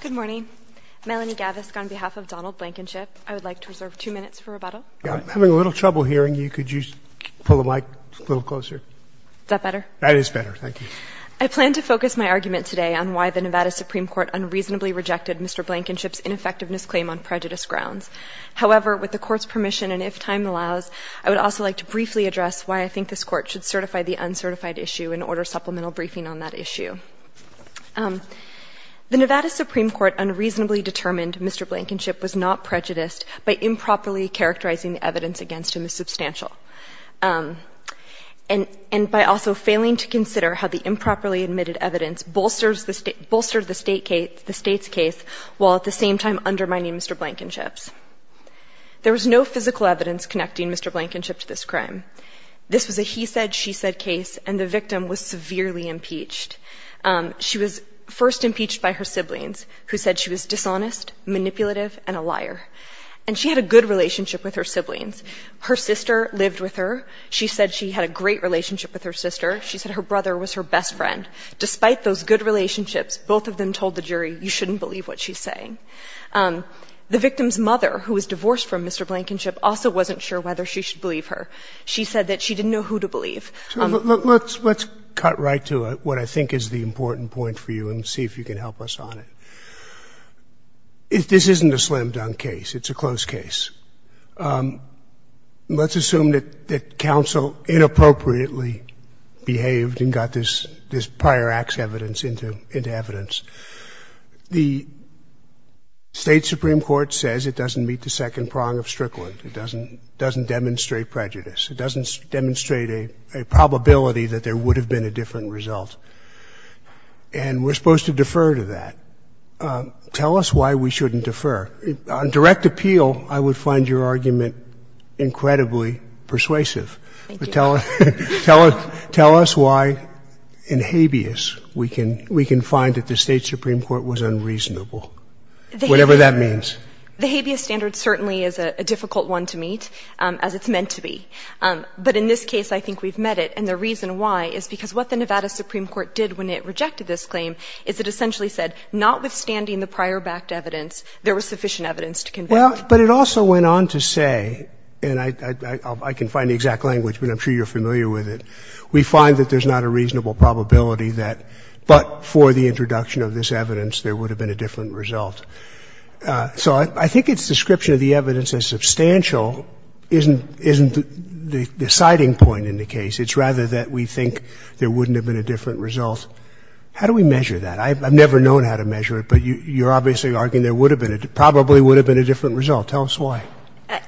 Good morning. Melanie Gavisk on behalf of Donald Blankenship. I would like to reserve two minutes for rebuttal. I'm having a little trouble hearing you. Could you pull the mic a little closer? Is that better? That is better. Thank you. I plan to focus my argument today on why the Nevada Supreme Court unreasonably rejected Mr. Blankenship's ineffectiveness claim on prejudice grounds. However, with the Court's permission and if time allows, I would also like to briefly address why I think this Court should certify the uncertified issue and order supplemental briefing on that issue. The Nevada Supreme Court unreasonably determined Mr. Blankenship was not prejudiced by improperly characterizing the evidence against him as substantial and by also failing to consider how the improperly admitted evidence bolstered the State's case while at the same time undermining Mr. Blankenship's. There was no physical evidence connecting Mr. Blankenship to this crime. This was a he said, she said case, and the victim was severely impeached. She was first impeached by her siblings, who said she was dishonest, manipulative, and a liar. And she had a good relationship with her siblings. Her sister lived with her. She said she had a great relationship with her sister. She said her brother was her best friend. Despite those good relationships, both of them told the jury, you shouldn't believe what she's saying. The victim's mother, who was divorced from Mr. Blankenship, also wasn't sure whether she should believe her. She said that she didn't know who to believe. Sotomayor, let's cut right to what I think is the important point for you and see if you can help us on it. This isn't a slim dunk case. It's a close case. Let's assume that counsel inappropriately behaved and got this prior acts evidence into evidence. The State Supreme Court says it doesn't meet the second prong of Strickland. It doesn't demonstrate prejudice. It doesn't demonstrate a probability that there would have been a different result. And we're supposed to defer to that. Tell us why we shouldn't defer. On direct appeal, I would find your argument incredibly persuasive. Thank you. Tell us why in habeas we can find that the State Supreme Court was unreasonable, whatever that means. The habeas standard certainly is a difficult one to meet, as it's meant to be. But in this case, I think we've met it. And the reason why is because what the Nevada Supreme Court did when it rejected this claim is it essentially said notwithstanding the prior backed evidence, there was sufficient evidence to convict. Well, but it also went on to say, and I can find the exact language, but I'm sure you're familiar with it. We find that there's not a reasonable probability that, but for the introduction of this evidence, there would have been a different result. So I think its description of the evidence as substantial isn't the deciding point in the case. It's rather that we think there wouldn't have been a different result. How do we measure that? I've never known how to measure it, but you're obviously arguing there would have been a — probably would have been a different result. Tell us why.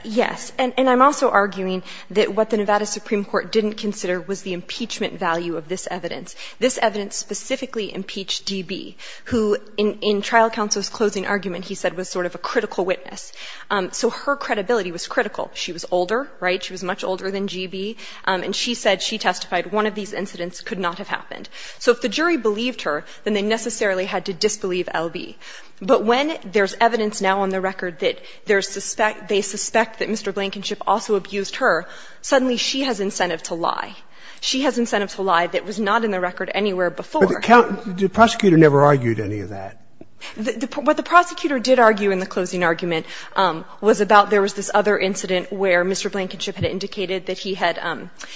Yes. And I'm also arguing that what the Nevada Supreme Court didn't consider was the impeachment value of this evidence. This evidence specifically impeached D.B., who in trial counsel's closing argument, he said, was sort of a critical witness. So her credibility was critical. She was older, right? She was much older than G.B., and she said, she testified, one of these incidents could not have happened. So if the jury believed her, then they necessarily had to disbelieve L.B. But when there's evidence now on the record that they suspect that Mr. Blankenship also abused her, suddenly she has incentive to lie. She has incentive to lie that was not in the record anywhere before. But the prosecutor never argued any of that. What the prosecutor did argue in the closing argument was about there was this other incident where Mr. Blankenship had indicated that he had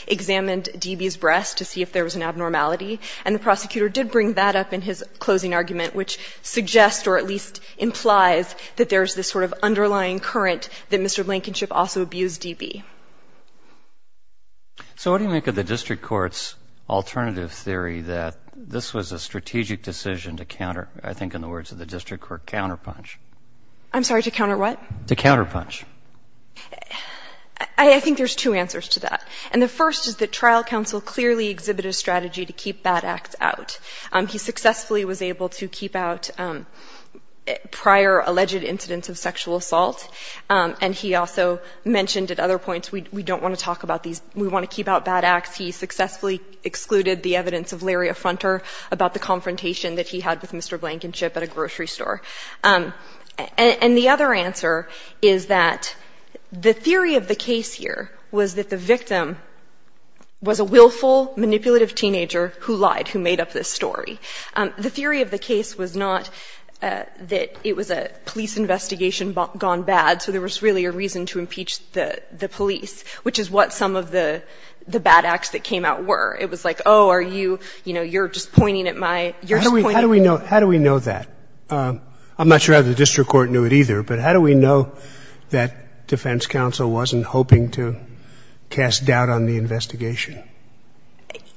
examined D.B.'s breast to see if there was an abnormality. And the prosecutor did bring that up in his closing argument, which suggests or at least implies that there's this sort of underlying current that Mr. Blankenship also abused D.B. So what do you make of the district court's alternative theory that this was a strategic decision to counter, I think in the words of the district court, counterpunch? I'm sorry, to counter what? To counterpunch. I think there's two answers to that. And the first is that trial counsel clearly exhibited a strategy to keep bad acts out. He successfully was able to keep out prior alleged incidents of sexual assault, and he also mentioned at other points, we don't want to talk about these, we want to keep out bad acts. He successfully excluded the evidence of Larry Affronter about the confrontation that he had with Mr. Blankenship at a grocery store. And the other answer is that the theory of the case here was that the victim was a willful, manipulative teenager who lied, who made up this story. The theory of the case was not that it was a police investigation gone bad, so there was really a reason to impeach the police, which is what some of the bad acts that came out were. It was like, oh, are you, you know, you're just pointing at my — How do we know that? I'm not sure how the district court knew it either, but how do we know that defense counsel wasn't hoping to cast doubt on the investigation?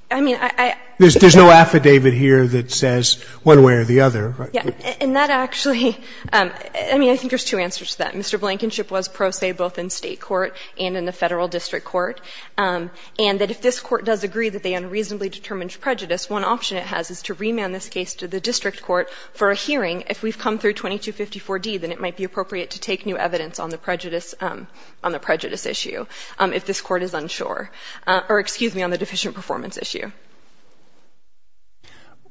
I mean, I — There's no affidavit here that says one way or the other, right? Yeah. And that actually — I mean, I think there's two answers to that. Mr. Blankenship was pro se both in State court and in the Federal district court, and that if this court does agree that they unreasonably determined prejudice, one option it has is to remand this case to the district court for a hearing. If we've come through 2254D, then it might be appropriate to take new evidence on the prejudice — on the prejudice issue if this court is unsure — or, excuse me, on the deficient performance issue.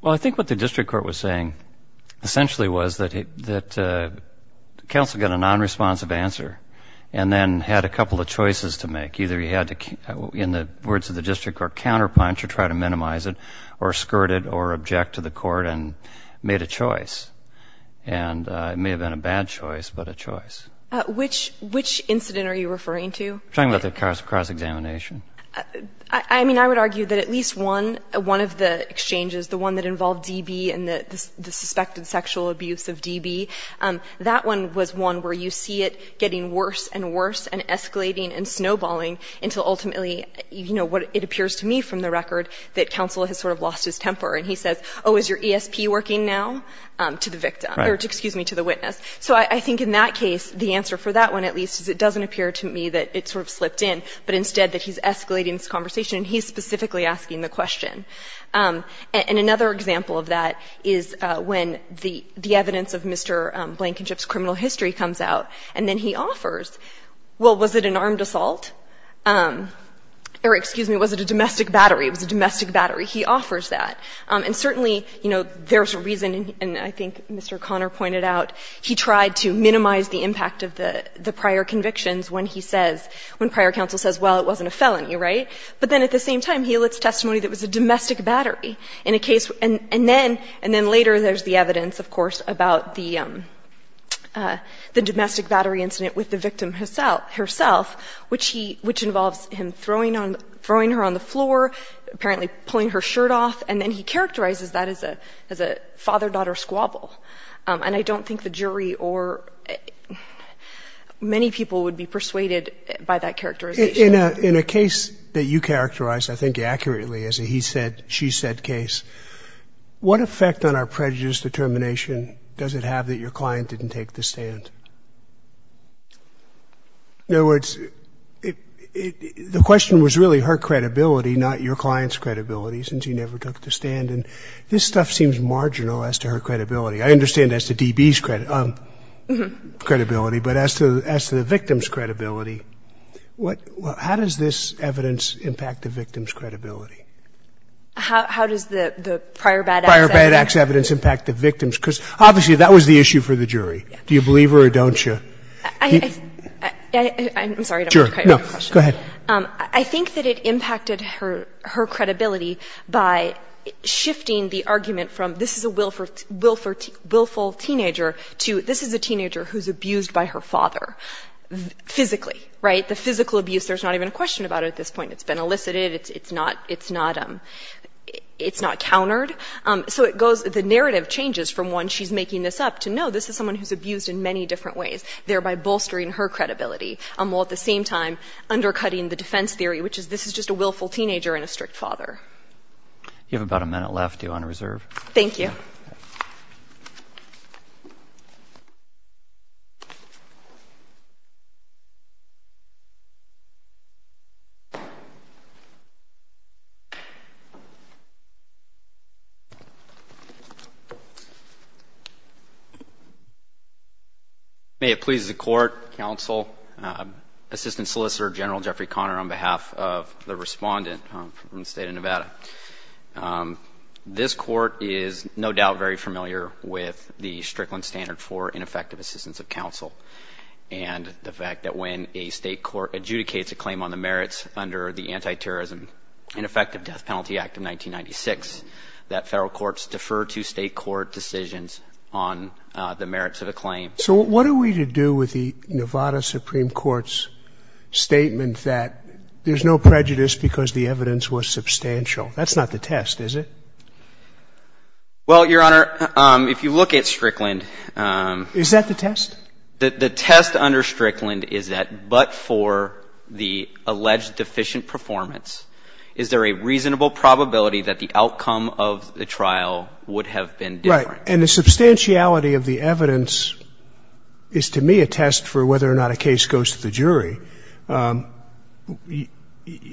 Well, I think what the district court was saying essentially was that counsel got a nonresponsive answer and then had a couple of choices to make. Either he had to, in the words of the district court, counterpunch or try to minimize it or skirt it or object to the court and made a choice. And it may have been a bad choice, but a choice. Which incident are you referring to? I'm talking about the cross-examination. I mean, I would argue that at least one, one of the exchanges, the one that involved DB and the suspected sexual abuse of DB, that one was one where you see it getting worse and worse and escalating and snowballing until ultimately, you know, what it appears to me from the record that counsel has sort of lost his temper. And he says, oh, is your ESP working now? To the victim. Right. Or, excuse me, to the witness. So I think in that case the answer for that one at least is it doesn't appear to me that it sort of slipped in, but instead that he's escalating this conversation and he's specifically asking the question. And another example of that is when the evidence of Mr. Blankenship's criminal history comes out and then he offers, well, was it an armed assault? Or, excuse me, was it a domestic battery? It was a domestic battery. He offers that. And certainly, you know, there's a reason, and I think Mr. Conner pointed out, he tried to minimize the impact of the prior convictions when he says, when prior counsel says, well, it wasn't a felony. Right? But then at the same time, he elicits testimony that it was a domestic battery in a case. And then later there's the evidence, of course, about the domestic battery incident with the victim herself, which involves him throwing her on the floor, apparently pulling her shirt off, and then he characterizes that as a father-daughter squabble. And I don't think the jury or many people would be persuaded by that characterization. In a case that you characterized, I think accurately, as a he said, she said case, what effect on our prejudice determination does it have that your client didn't take the stand? In other words, the question was really her credibility, not your client's credibility, since he never took the stand. And this stuff seems marginal as to her credibility. I understand as to D.B.'s credibility, but as to the victim's credibility, how does this evidence impact the victim's credibility? How does the prior bad acts evidence impact the victim's? Because obviously that was the issue for the jury. Do you believe her or don't you? I'm sorry. Go ahead. I think that it impacted her credibility by shifting the argument from this is a will willful teenager to this is a teenager who's abused by her father physically, right? The physical abuse, there's not even a question about it at this point. It's been elicited. It's not countered. So the narrative changes from when she's making this up to no, this is someone who's abused in many different ways, thereby bolstering her credibility, while at the same time undercutting the defense theory, which is this is just a willful teenager and a strict father. You have about a minute left. You're on reserve. Thank you. May it please the Court, Counsel, Assistant Solicitor General Jeffrey Conner, on behalf of the respondent from the State of Nevada. This court is no doubt very familiar with the Strickland Standard for Ineffective Assistance of Counsel and the fact that when a state court adjudicates a claim on the merits under the Anti-Terrorism Ineffective Death Penalty Act of 1996, that federal courts defer to state court decisions on the merits of a claim. So what are we to do with the Nevada Supreme Court's statement that there's no substantial? That's not the test, is it? Well, Your Honor, if you look at Strickland. Is that the test? The test under Strickland is that but for the alleged deficient performance, is there a reasonable probability that the outcome of the trial would have been different? Right. And the substantiality of the evidence is to me a test for whether or not a case goes to the jury.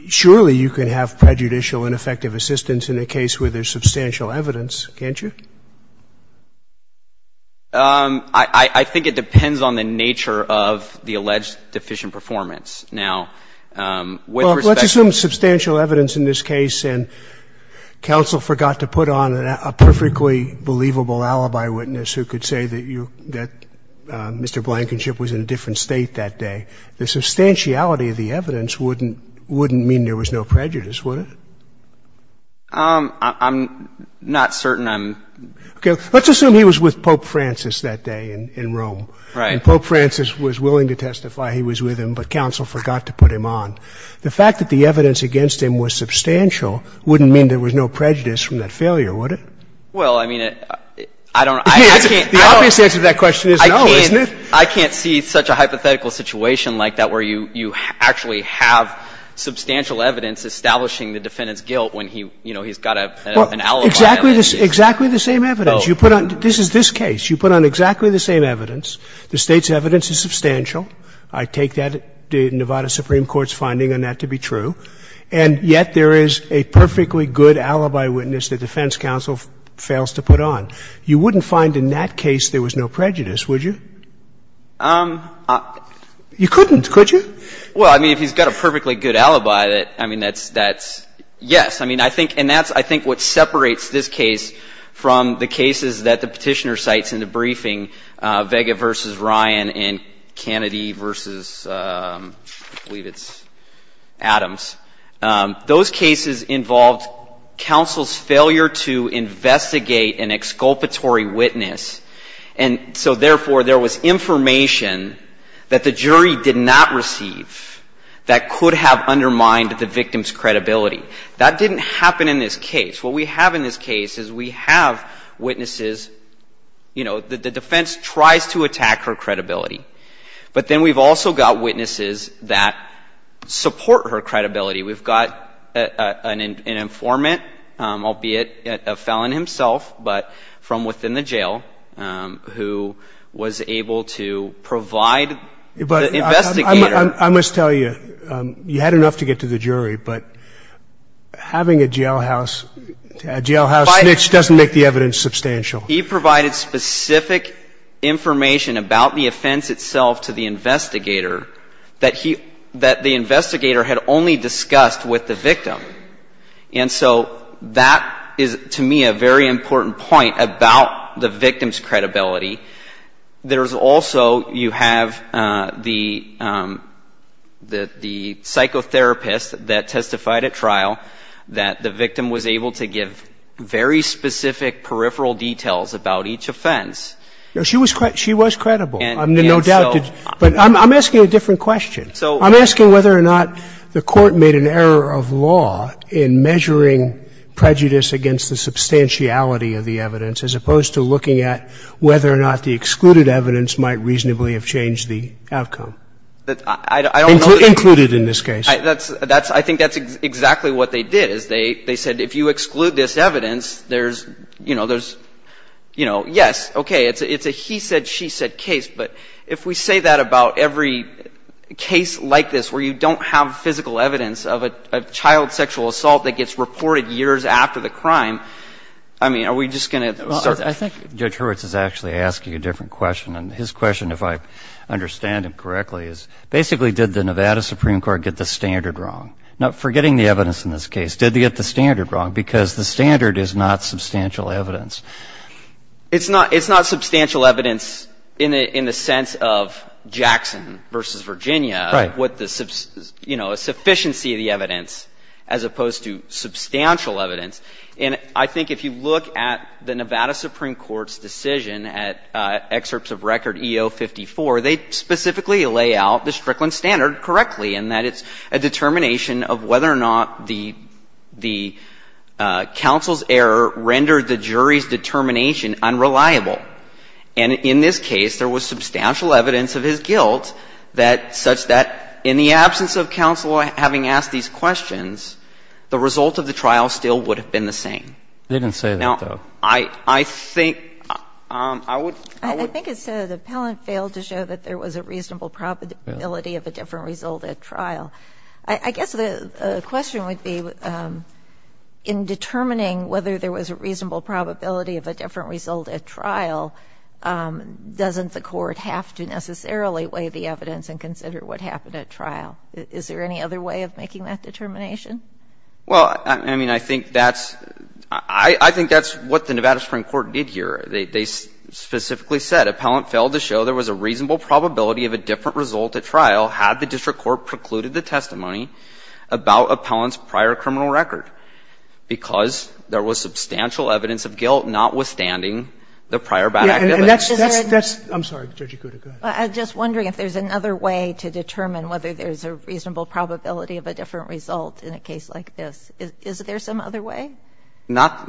Surely you can have prejudicial ineffective assistance in a case where there's substantial evidence, can't you? I think it depends on the nature of the alleged deficient performance. Now, with respect to the ---- Well, let's assume substantial evidence in this case, and counsel forgot to put on a perfectly believable alibi witness who could say that you, that Mr. Blankenship was in a different state that day. The substantiality of the evidence wouldn't mean there was no prejudice, would it? I'm not certain I'm ---- Okay. Let's assume he was with Pope Francis that day in Rome. Right. And Pope Francis was willing to testify he was with him, but counsel forgot to put him on. The fact that the evidence against him was substantial wouldn't mean there was no prejudice from that failure, would it? Well, I mean, I don't ---- The obvious answer to that question is no, isn't it? I can't see such a hypothetical situation like that where you actually have substantial evidence establishing the defendant's guilt when he, you know, he's got an alibi. Well, exactly the same evidence. You put on ---- Oh. This is this case. You put on exactly the same evidence. The State's evidence is substantial. I take that, the Nevada Supreme Court's finding on that to be true. And yet there is a perfectly good alibi witness the defense counsel fails to put on. You wouldn't find in that case there was no prejudice, would you? You couldn't, could you? Well, I mean, if he's got a perfectly good alibi, I mean, that's yes. I mean, I think and that's I think what separates this case from the cases that the Petitioner cites in the briefing, Vega v. Ryan and Kennedy v. I believe it's Adams. Those cases involved counsel's failure to investigate an exculpatory witness, and so, therefore, there was information that the jury did not receive that could have undermined the victim's credibility. That didn't happen in this case. What we have in this case is we have witnesses, you know, the defense tries to attack her credibility, but then we've also got witnesses that support her credibility. We've got an informant, albeit a felon himself, but from within the jail who was able to provide the investigator. But I must tell you, you had enough to get to the jury, but having a jailhouse snitch doesn't make the evidence substantial. He provided specific information about the offense itself to the investigator that he, that the investigator had only discussed with the victim. And so that is, to me, a very important point about the victim's credibility. There's also, you have the psychotherapist that testified at trial that the victim was able to give very specific peripheral details about each offense. No, she was credible. I'm in no doubt. But I'm asking a different question. I'm asking whether or not the Court made an error of law in measuring prejudice against the substantiality of the evidence as opposed to looking at whether or not the excluded evidence might reasonably have changed the outcome. Included in this case. I think that's exactly what they did, is they said if you exclude this evidence, there's, you know, there's, you know, yes, okay, it's a he said, she said case. But if we say that about every case like this where you don't have physical evidence of a child sexual assault that gets reported years after the crime, I mean, are we just going to start? Well, I think Judge Hurwitz is actually asking a different question. And his question, if I understand him correctly, is basically did the Nevada Supreme Court get the standard wrong? Now, forgetting the evidence in this case, did they get the standard wrong? Because the standard is not substantial evidence. It's not substantial evidence in the sense of Jackson v. Virginia. Right. You know, a sufficiency of the evidence as opposed to substantial evidence. And I think if you look at the Nevada Supreme Court's decision at excerpts of record EO 54, they specifically lay out the Strickland standard correctly in that it's a determination of whether or not the counsel's error rendered the jury's determination unreliable. And in this case, there was substantial evidence of his guilt that such that in the absence of counsel having asked these questions, the result of the trial still would have been the same. They didn't say that, though. Now, I think I would. I think it said the appellant failed to show that there was a reasonable probability of a different result at trial. I guess the question would be, in determining whether there was a reasonable probability of a different result at trial, doesn't the Court have to necessarily weigh the evidence and consider what happened at trial? Is there any other way of making that determination? Well, I mean, I think that's what the Nevada Supreme Court did here. They specifically said appellant failed to show there was a reasonable probability of a different result at trial had the district court precluded the testimony about appellant's prior criminal record, because there was substantial evidence of guilt notwithstanding the prior bad activity. I'm sorry, Judge Yakuta, go ahead. I'm just wondering if there's another way to determine whether there's a reasonable probability of a different result in a case like this. Is there some other way? Not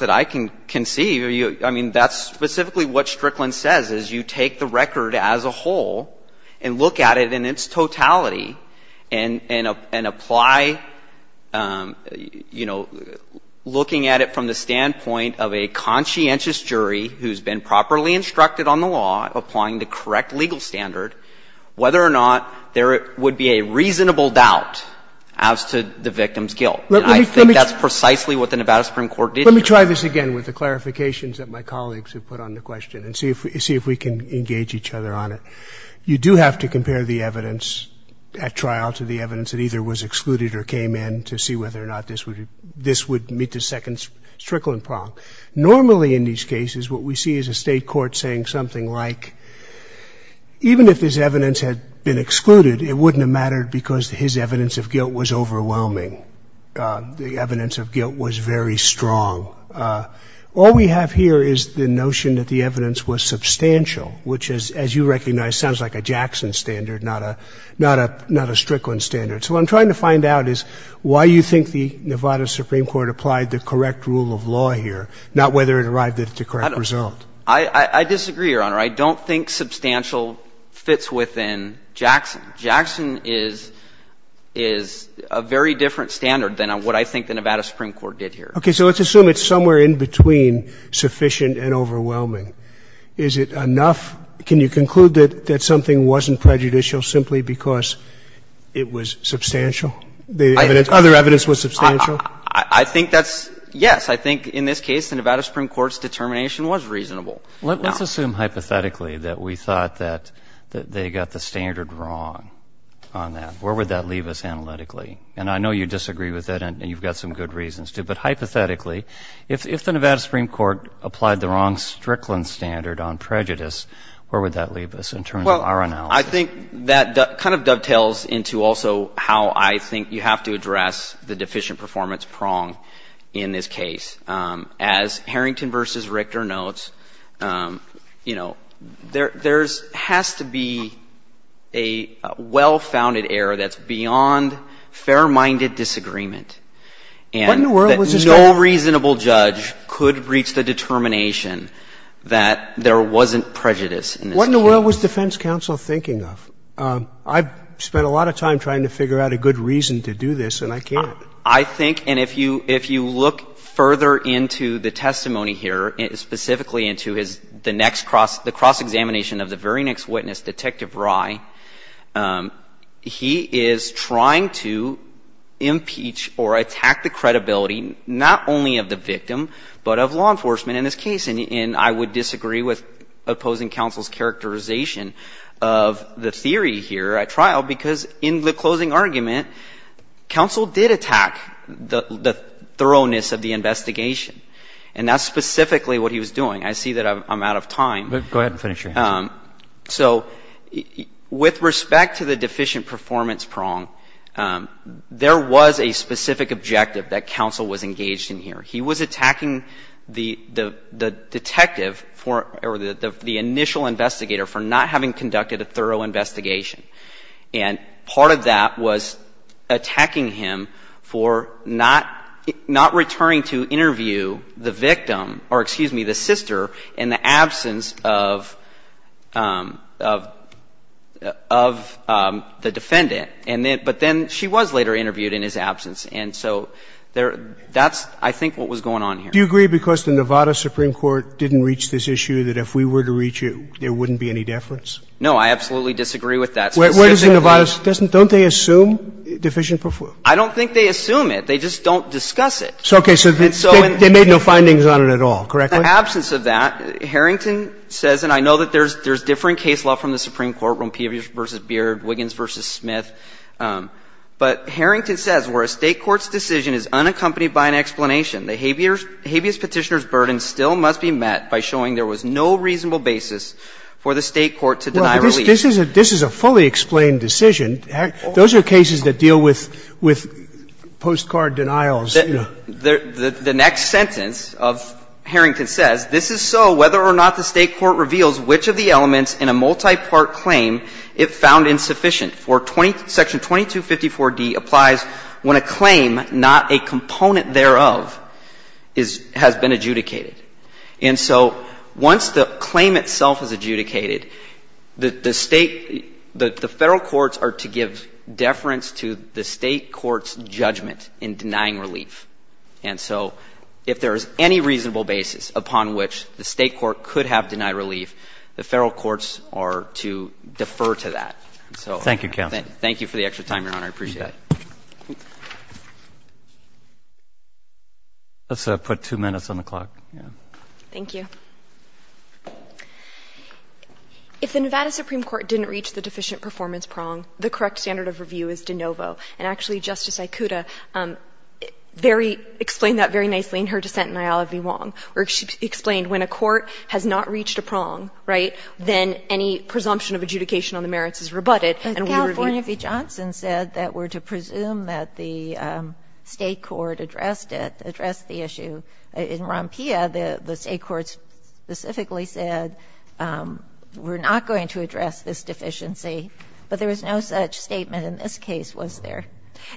that I can conceive. I mean, that's specifically what Strickland says, is you take the record as a whole and look at it in its totality and apply, you know, looking at it from the standpoint of a conscientious jury who's been properly instructed on the law, applying the correct legal standard, whether or not there would be a reasonable doubt as to the victim's guilt. And I think that's precisely what the Nevada Supreme Court did here. Let me try this again with the clarifications that my colleagues have put on the question and see if we can engage each other on it. You do have to compare the evidence at trial to the evidence that either was excluded or came in to see whether or not this would meet the second Strickland problem. Normally in these cases, what we see is a state court saying something like, even if this evidence had been excluded, it wouldn't have mattered because his evidence of guilt was overwhelming. The evidence of guilt was very strong. All we have here is the notion that the evidence was substantial, which is, as you recognize, sounds like a Jackson standard, not a Strickland standard. So what I'm trying to find out is why you think the Nevada Supreme Court applied the correct rule of law here, not whether it arrived at the correct result. I disagree, Your Honor. I don't think substantial fits within Jackson. Jackson is a very different standard than what I think the Nevada Supreme Court did here. Okay. So let's assume it's somewhere in between sufficient and overwhelming. Is it enough? Can you conclude that something wasn't prejudicial simply because it was substantial, the evidence, other evidence was substantial? I think that's yes. I think in this case the Nevada Supreme Court's determination was reasonable. Let's assume hypothetically that we thought that they got the standard wrong on that. Where would that leave us analytically? And I know you disagree with that, and you've got some good reasons to. But hypothetically, if the Nevada Supreme Court applied the wrong Strickland standard on prejudice, where would that leave us in terms of our analysis? Well, I think that kind of dovetails into also how I think you have to address the deficient performance prong in this case. As Harrington v. Richter notes, you know, there has to be a well-founded error that's beyond fair-minded disagreement and that no reasonable judge could reach the determination that there wasn't prejudice in this case. What in the world was defense counsel thinking of? I've spent a lot of time trying to figure out a good reason to do this, and I can't. I think, and if you look further into the testimony here, specifically into the next cross-examination of the very next witness, Detective Rye, he is trying to impeach or attack the credibility not only of the victim, but of law enforcement in this case. And I would disagree with opposing counsel's characterization of the theory here at trial because in the closing argument, counsel did attack the thoroughness of the investigation. And that's specifically what he was doing. I see that I'm out of time. Go ahead and finish your answer. So with respect to the deficient performance prong, there was a specific objective that counsel was engaged in here. He was attacking the detective or the initial investigator for not having conducted a thorough investigation. And part of that was attacking him for not returning to interview the victim or, excuse me, the sister in the absence of the defendant. But then she was later interviewed in his absence. And so that's, I think, what was going on here. Do you agree because the Nevada Supreme Court didn't reach this issue that if we were to reach it, there wouldn't be any deference? No. I absolutely disagree with that. Where does the Nevada don't they assume deficient performance? I don't think they assume it. They just don't discuss it. Okay. So they made no findings on it at all, correct? In the absence of that, Harrington says, and I know that there's differing case law from the Supreme Court when Peabody v. Beard, Wiggins v. Smith. But Harrington says, where a State court's decision is unaccompanied by an explanation, the habeas Petitioner's burden still must be met by showing there was no reasonable basis for the State court to deny relief. Well, this is a fully explained decision. Those are cases that deal with postcard denials. The next sentence of Harrington says, This is so whether or not the State court reveals which of the elements in a multipart claim it found insufficient. Section 2254d applies when a claim, not a component thereof, has been adjudicated. And so once the claim itself is adjudicated, the State, the Federal courts are to give deference to the State court's judgment in denying relief. And so if there is any reasonable basis upon which the State court could have denied relief, the Federal courts are to defer to that. Thank you, counsel. Thank you for the extra time, Your Honor. I appreciate that. Let's put two minutes on the clock. Thank you. If the Nevada Supreme Court didn't reach the deficient performance prong, the correct standard of review is de novo. And actually, Justice Aicuda very — explained that very nicely in her dissent in Iola v. Wong, where she explained when a court has not reached a prong, right, then any presumption of adjudication on the merits is rebutted. But California v. Johnson said that we're to presume that the State court addressed it, addressed the issue. In Rompia, the State courts specifically said we're not going to address this deficiency, but there was no such statement in this case, was there?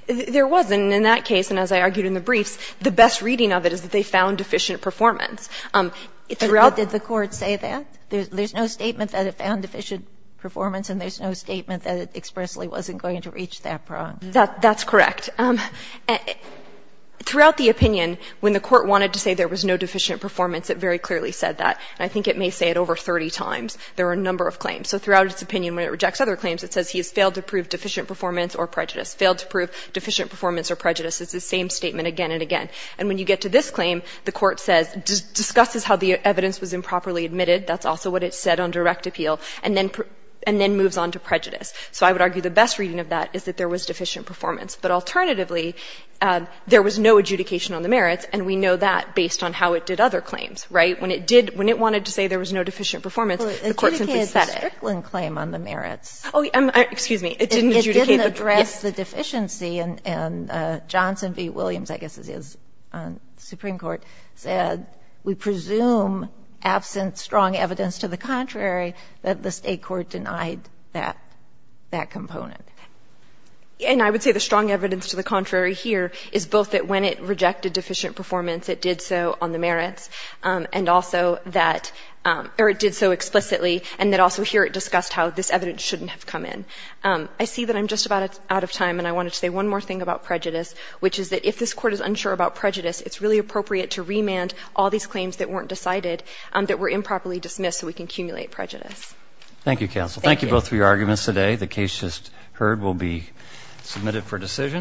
There wasn't. In that case, and as I argued in the briefs, the best reading of it is that they found deficient performance. Did the court say that? There's no statement that it found deficient performance and there's no statement that it expressly wasn't going to reach that prong. That's correct. Throughout the opinion, when the Court wanted to say there was no deficient performance, it very clearly said that. And I think it may say it over 30 times. There are a number of claims. So throughout its opinion, when it rejects other claims, it says he has failed to prove deficient performance or prejudice, failed to prove deficient performance or prejudice. It's the same statement again and again. And when you get to this claim, the Court says — discusses how the evidence was improperly admitted. That's also what it said on direct appeal. And then moves on to prejudice. So I would argue the best reading of that is that there was deficient performance. But alternatively, there was no adjudication on the merits, and we know that based on how it did other claims, right? When it did — when it wanted to say there was no deficient performance, the Court simply said it. Well, it adjudicated the Strickland claim on the merits. Oh, excuse me. It didn't adjudicate the — It didn't address the deficiency. And Johnson v. Williams, I guess it is, on the Supreme Court, said we presume absent strong evidence to the contrary that the State court denied that — that component. And I would say the strong evidence to the contrary here is both that when it rejected deficient performance, it did so on the merits, and also that — or it did so explicitly and that also here it discussed how this evidence shouldn't have come in. I see that I'm just about out of time, and I wanted to say one more thing about prejudice, which is that if this Court is unsure about prejudice, it's really appropriate to remand all these claims that weren't decided that were improperly dismissed so we can accumulate prejudice. Thank you, counsel. Thank you. Thank you both for your arguments today. The case just heard will be submitted for decision.